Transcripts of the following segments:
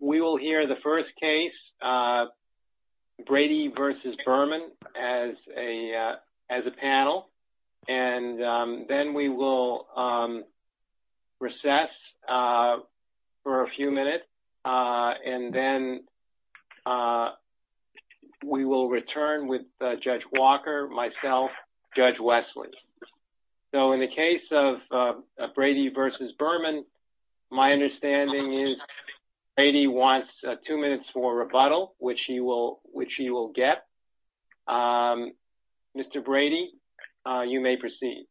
we will hear the first case Brady v. Berman as a panel and then we will recess for a few minutes and then we will return with Judge Walker, myself, Judge Wesley. So in the case of Brady v. Berman my understanding is Brady wants two minutes for rebuttal which he will get. Mr. Brady you may proceed.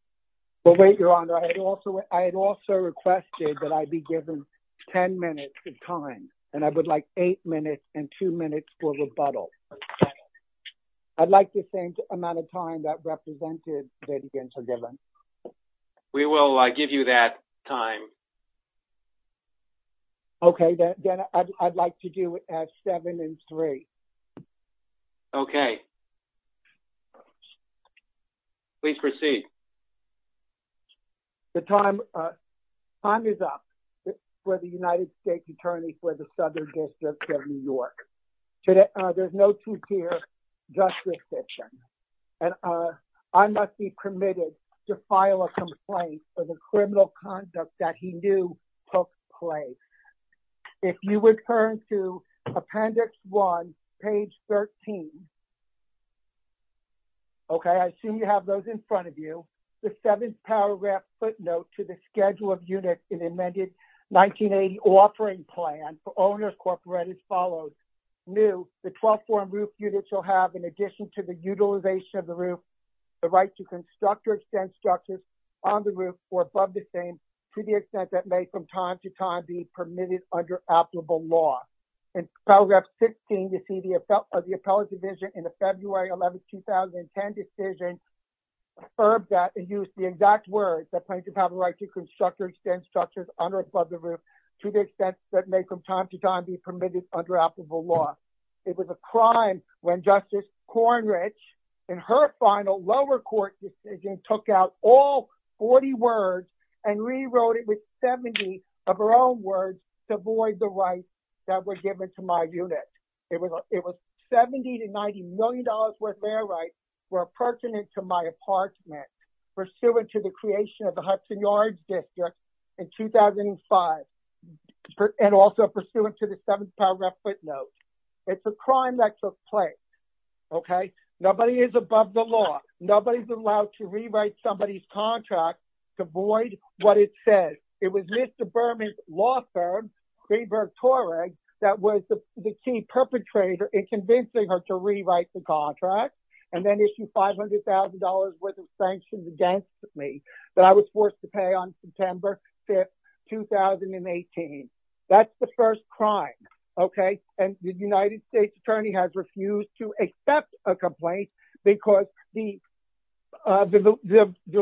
Well wait your honor I had also requested that I be given 10 minutes of time and I would like to be given. We will give you that time. Okay then I'd like to do it at seven and three. Okay. Please proceed. The time is up for the United States Attorney for the Southern District of New York. There's no two-tiered justice system and I must be permitted to file a complaint for the criminal conduct that he knew took place. If you would turn to appendix one page 13. Okay I assume you have those in front of you. The seventh paragraph footnote to the schedule of units in amended 1980 offering plan for owners corporate as follows new the 12th form roof unit shall have in addition to the utilization of the roof the right to construct or extend structures on the roof or above the same to the extent that may from time to time be permitted under applicable law. In paragraph 16 you see the effect of the appellate division in the February 11th 2010 decision that used the exact words that plaintiff have a right to construct or extend structures under above the roof to the extent that may from time to time be permitted under applicable law. It was a crime when Justice Cornridge in her final lower court decision took out all 40 words and rewrote it with 70 of her own words to avoid the rights that were given to my unit. It was 70 to 90 million dollars worth their rights were pertinent to my apartment pursuant to the creation of the Hudson Yards district in 2005 and also pursuant to the seventh paragraph footnote. It's a crime that took place okay nobody is above the law nobody's allowed to rewrite somebody's contract to void what it says. It was Mr. Berman's law firm Greenberg Toreg that was the key perpetrator in convincing her to rewrite the contract and then issue $500,000 worth of sanctions against me that I was forced to pay on September 5th 2018. That's the first crime okay and the United States attorney has refused to accept a complaint because the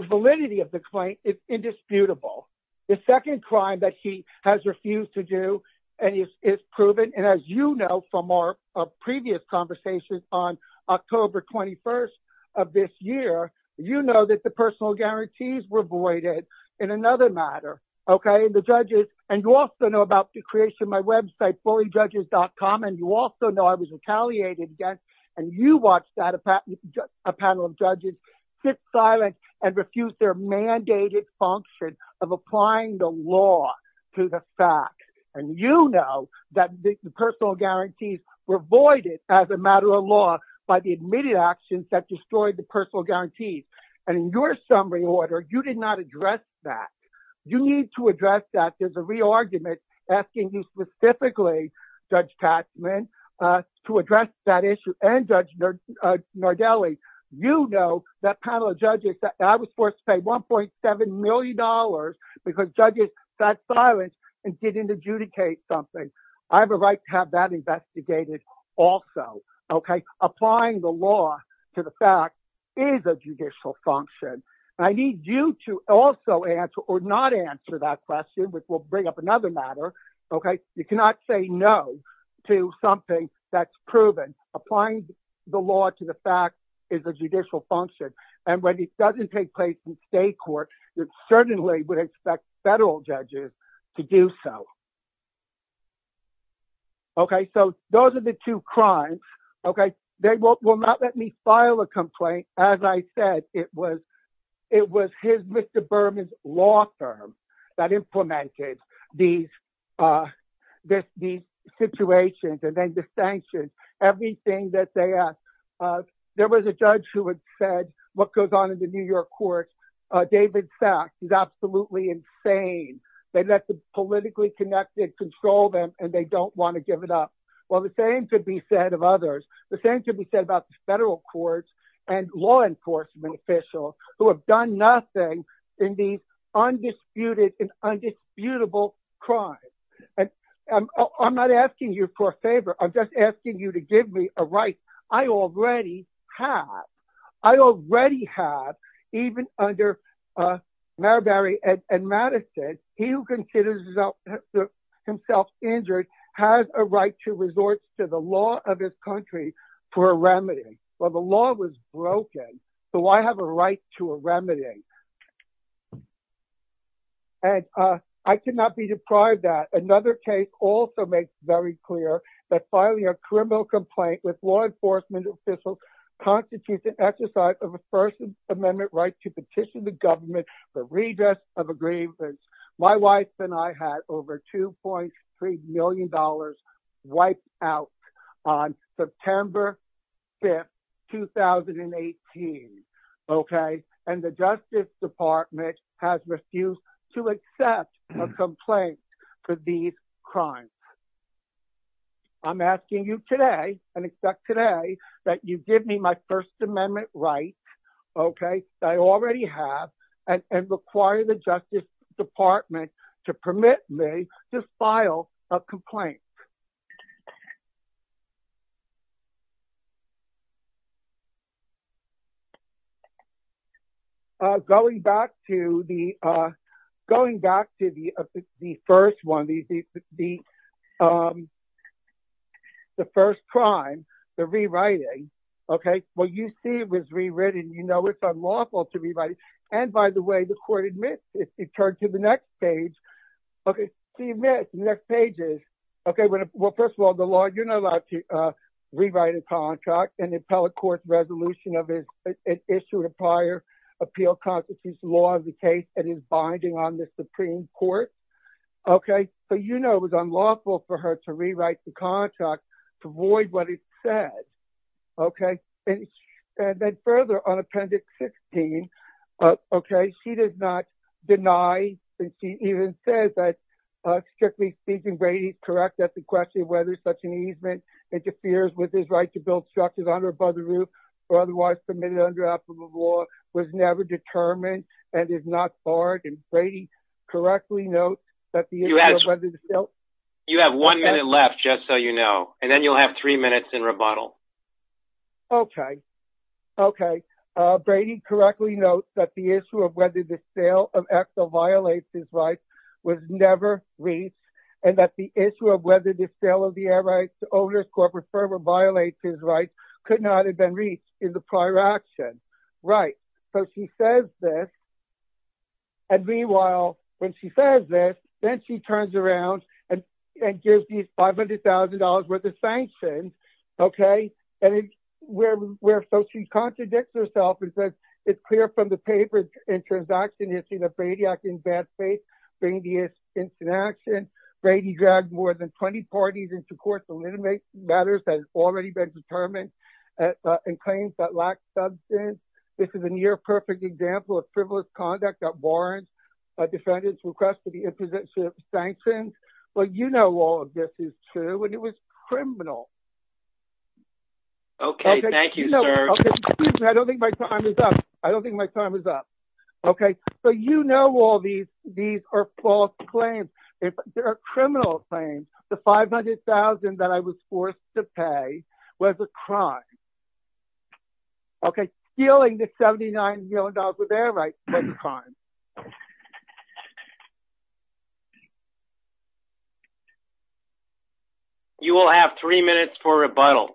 validity of the claim is indisputable. The second crime that she has refused to do and it's proven and as you know from our previous conversations on October 21st of this year you know that the personal guarantees were voided in another matter okay the judges and you also know about the creation of my website bullyjudges.com and you also know I was retaliated against and you watched that a panel of judges sit silent and refuse their mandated function of applying the law to the fact and you know that the personal guarantees were voided as a matter of law by the immediate actions that destroyed the personal guarantees and in your summary order you did not address that. You need to address that there's a re-argument asking you specifically Judge Tasman to address that issue and Judge Nardelli. You know that panel of judges I was forced to pay 1.7 million dollars because judges sat silent and didn't adjudicate something. I have a right to have that investigated also okay applying the law to the fact is a judicial function. I need you to also answer or not answer that question which will bring up another matter okay you cannot say no to something that's proven. Applying the law to the fact is a judicial function and when it doesn't take place in state court you certainly would expect federal judges to do so. Okay so those are the two crimes okay they will not let me file a complaint as I said it was it was his Mr. Berman's law firm that implemented these situations and then the what goes on in the New York courts David Sachs is absolutely insane. They let the politically connected control them and they don't want to give it up. Well the same could be said of others the same could be said about the federal courts and law enforcement officials who have done nothing in these undisputed and undisputable crimes and I'm not asking you for a favor I'm just asking you to give me a right I already have. I already have even under Marbury and Madison he who considers himself injured has a right to resort to the law of his country for a remedy. Well the law was broken so I have a right to a remedy and I cannot be deprived that another case also makes very clear that filing a criminal complaint with law enforcement officials constitutes an exercise of a first amendment right to petition the government for redress of agreements. My wife and I had over 2.3 million dollars wiped out on September 5th 2018 okay and the justice department has refused to accept a complaint for these crimes. I'm asking you today and expect today that you give me my first amendment right okay I already have and require the justice department to permit me to file a complaint. Going back to the going back to the the first one the the the first crime the rewriting okay what you see was rewritten you know it's unlawful to okay see you miss the next page is okay well first of all the law you're not allowed to rewrite a contract an appellate court resolution of his it issued a prior appeal constitutes law of the case and is binding on the supreme court okay so you know it was unlawful for her to rewrite the contract to void what it said okay and then further on appendix 16 okay she does not deny and she even says that strictly speaking Brady correct that the question whether such an easement interferes with his right to build structures on or above the roof or otherwise permitted under applicable law was never determined and is not barred and Brady correctly notes that the you have one minute left just so you know and then you'll have three minutes in rebuttal okay okay Brady correctly notes that the issue of whether the sale of exo violates his rights was never reached and that the issue of whether the sale of the air rights to owners corporate firm or violates his rights could not have been reached in the prior action right so she says this and meanwhile when she says this then she turns around and and gives $500,000 worth of sanctions okay and it's where where so she contradicts herself and says it's clear from the papers in transaction issue that Brady acting bad faith bring the instant action Brady dragged more than 20 parties into court to eliminate matters that has already been determined and claims that lack substance this is a near perfect example of frivolous conduct that warrants a defendant's request for the imposition of sanctions well you know all of this is true and it was criminal okay thank you sir i don't think my time is up i don't think my time is up okay so you know all these these are false claims there are criminal claims the 500,000 that i was forced to pay was a crime okay stealing the 79 million dollars with their crime you will have three minutes for rebuttal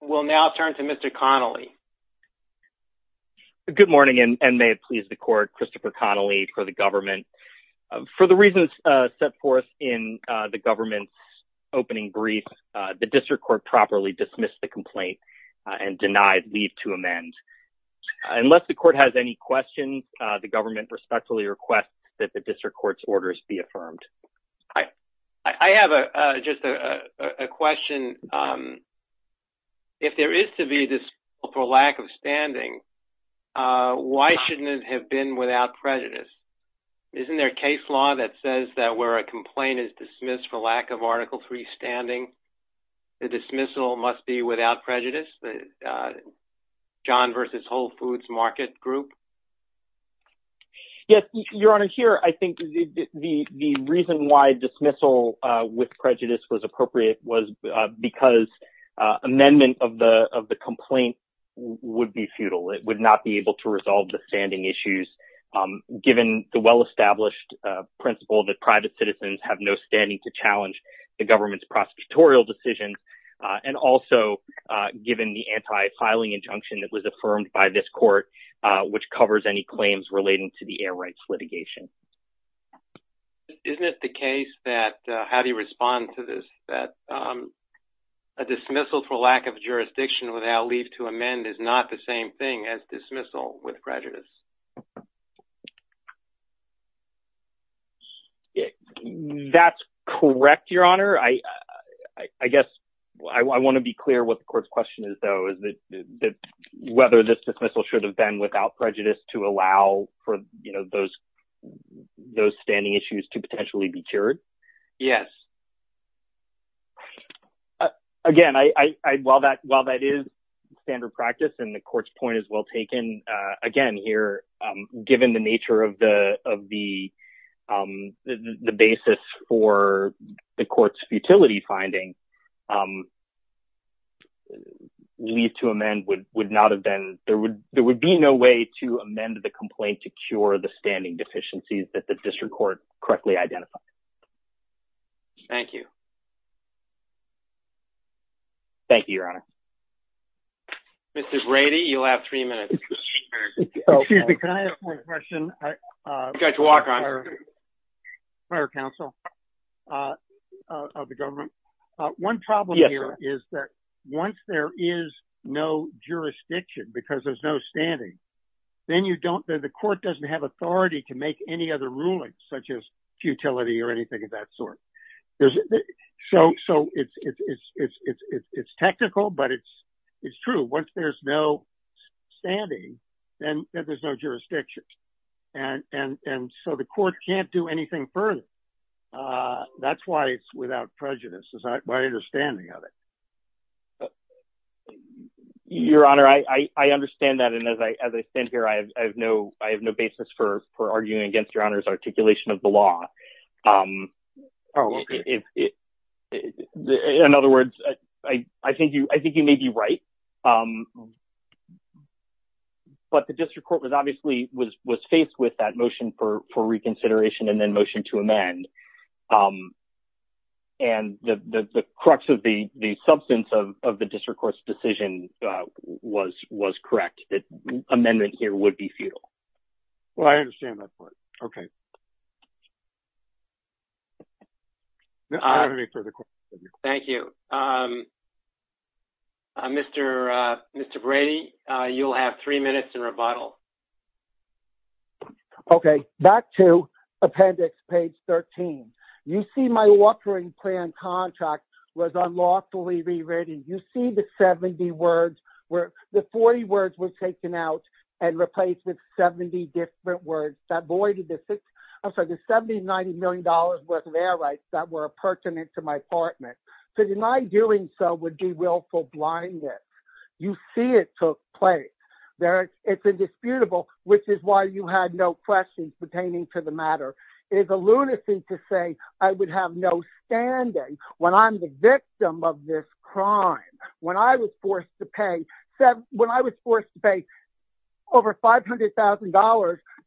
we'll now turn to mr connelly good morning and may it please the court christopher connelly for the government for the reasons uh set forth in uh the government's opening brief the district court properly dismissed the complaint and denied leave to amend unless the court has any questions uh the government respectfully requests that the district court's orders be affirmed i i have a just a a question um if there is to be this for lack of standing uh why shouldn't it have been without prejudice isn't there a case law that says that a complaint is dismissed for lack of article 3 standing the dismissal must be without prejudice john versus whole foods market group yes your honor here i think the the reason why dismissal with prejudice was appropriate was because amendment of the of the complaint would be futile it would not be able to resolve the standing issues given the well-established principle that private citizens have no standing to challenge the government's prosecutorial decisions and also given the anti-filing injunction that was affirmed by this court which covers any claims relating to the air rights litigation isn't it the case that how do you respond to this that um a dismissal for lack of jurisdiction without leave to amend is not the same thing as dismissal with prejudice yeah that's correct your honor i i i guess i want to be clear what the court's question is though is that that whether this dismissal should have been without prejudice to allow for you know those those standing issues to potentially be cured yes again i i while that while that is standard practice and the court's point is well taken again here given the nature of the of the the basis for the court's futility finding leave to amend would would not have been there would there would be no way to amend the complaint to cure the standing deficiencies that the district court correctly identified thank you thank you your honor mrs rady you'll have three minutes excuse me can i have one question uh got to walk on prior counsel uh of the government one problem here is that once there is no jurisdiction because there's no standing then you don't the court doesn't have authority to make any other rulings such as so it's it's it's it's it's technical but it's it's true once there's no standing then there's no jurisdiction and and and so the court can't do anything further uh that's why it's without prejudice is my understanding of it your honor i i i understand that and as i as i stand here i have no i have no basis for for in other words i i think you i think you may be right um but the district court was obviously was was faced with that motion for for reconsideration and then motion to amend um and the the crux of the the substance of of the district court's decision uh was was correct that amendment here would be futile well i understand that point okay thank you um uh mr uh mr brady uh you'll have three minutes in rebuttal okay back to appendix page 13 you see my offering plan contract was unlawfully rewritten you see the 70 words where the 40 words were taken out and replaced with 70 different words that voided the six i'm sorry the 70 90 million dollars worth of air rights that were pertinent to my apartment to deny doing so would be willful blindness you see it took place there it's indisputable which is why you had no questions pertaining to the matter it is a lunacy to say i would have no standing when i'm the victim of this crime when i was forced to pay said when i was forced to pay over 500 000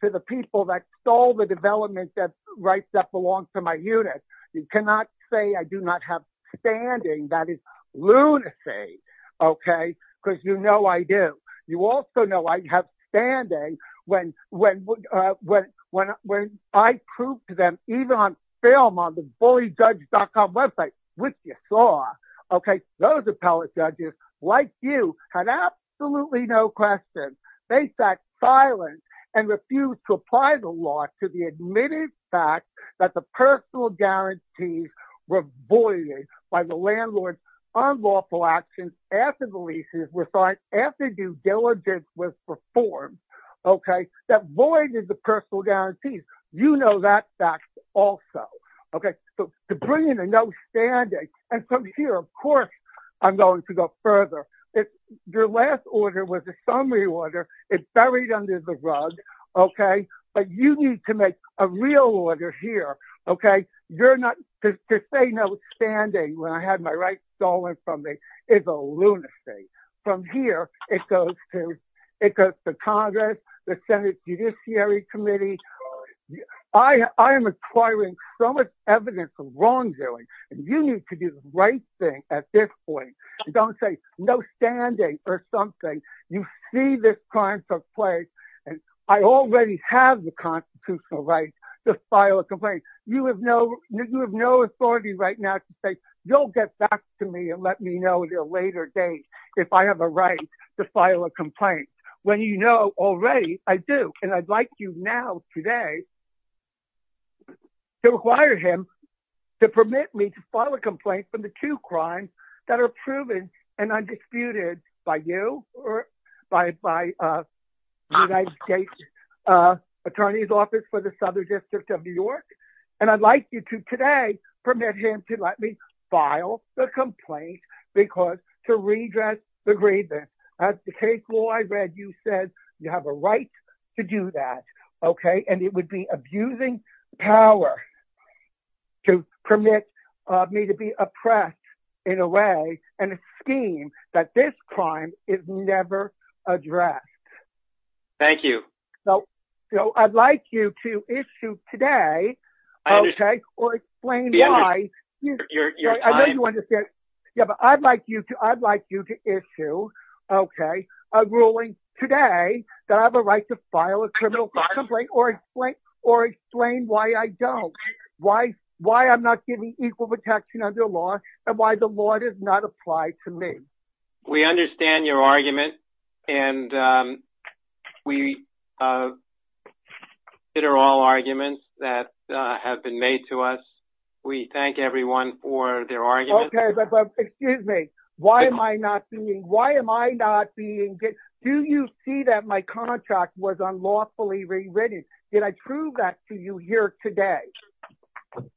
to the people that stole the development that rights that belong to my unit you cannot say i do not have standing that is lunacy okay because you know i do you also know i have standing when when uh when when when i proved to them even on film on the bullyjudge.com website which you saw okay those appellate judges like you had absolutely no questions they sat silent and refused to apply the law to the admitted fact that the personal guarantees were voided by the landlord's unlawful actions after the leases were after due diligence was performed okay that void is the personal guarantees you know that fact also okay so to bring in a no standing and from here of course i'm going to go further if your last order was a summary order it's buried under the rug okay but you need to make a real order here okay you're not to say no standing when i had my rights stolen from me is a lunacy from here it goes to it goes to congress the senate judiciary committee i i am acquiring so much evidence of wrongdoing and you need to do the right thing at this point don't say no standing or something you see this crime took place and i already have the constitutional right to file a complaint you have no you have no authority right now to say you'll get back to me and let me know at a later date if i have a right to file a complaint when you know already i do and i'd like you now today to require him to permit me to file a complaint from the two crimes that are proven and undisputed by you or by by uh united states uh attorney's office for the because to redress the grievance that's the case law i read you said you have a right to do that okay and it would be abusing power to permit uh me to be oppressed in a way and a scheme that this crime is never addressed thank you so you know i'd like you to issue today okay or explain why i know you understand yeah but i'd like you to i'd like you to issue okay a ruling today that i have a right to file a criminal complaint or explain or explain why i don't why why i'm not giving equal protection under law and why the law does not apply to me we understand your argument and um we uh it are all arguments that uh have been made to us we thank everyone for their argument okay excuse me why am i not doing why am i not being good do you see that my contract was unlawfully rewritten did i prove that to you here today okay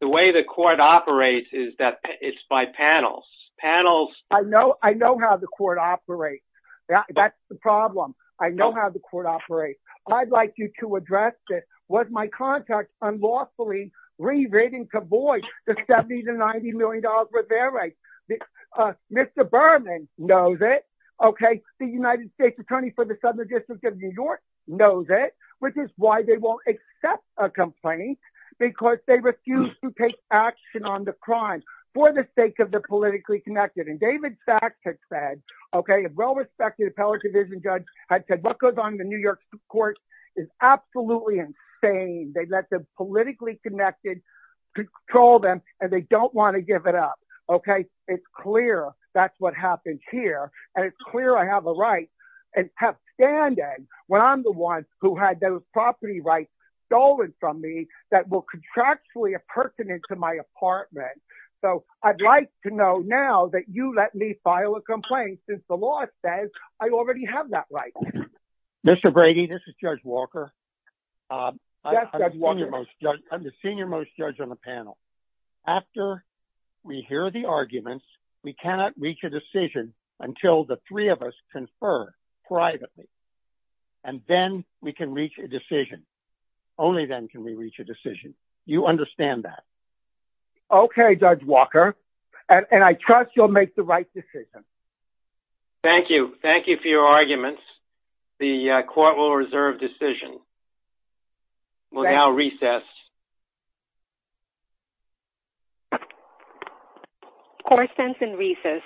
the way the court operates is that it's by panels panels i know i know how the court operates yeah that's the problem i know how the court operates i'd like you to address this was my contact unlawfully rewriting to voice the 70 to 90 million dollars for their rights mr berman knows it okay the united states attorney for the southern district of new york knows it which is why they won't accept a complaint because they refuse to take action on the crime for the sake of the politically connected and david fact had said okay a well-respected appellate division judge had said what goes on the new york court is absolutely insane they let the politically connected control them and they don't want to give it up okay it's clear that's what here and it's clear i have a right and have standing when i'm the one who had those property rights stolen from me that will contractually a person into my apartment so i'd like to know now that you let me file a complaint since the law says i already have that right mr brady this is judge walker uh i'm the senior most judge on the panel after we hear the arguments we cannot reach a decision until the three of us confer privately and then we can reach a decision only then can we reach a decision you understand that okay judge walker and i trust you'll make the right decision thank you thank you for your arguments the court will reserve decision will now recess you core sense and recess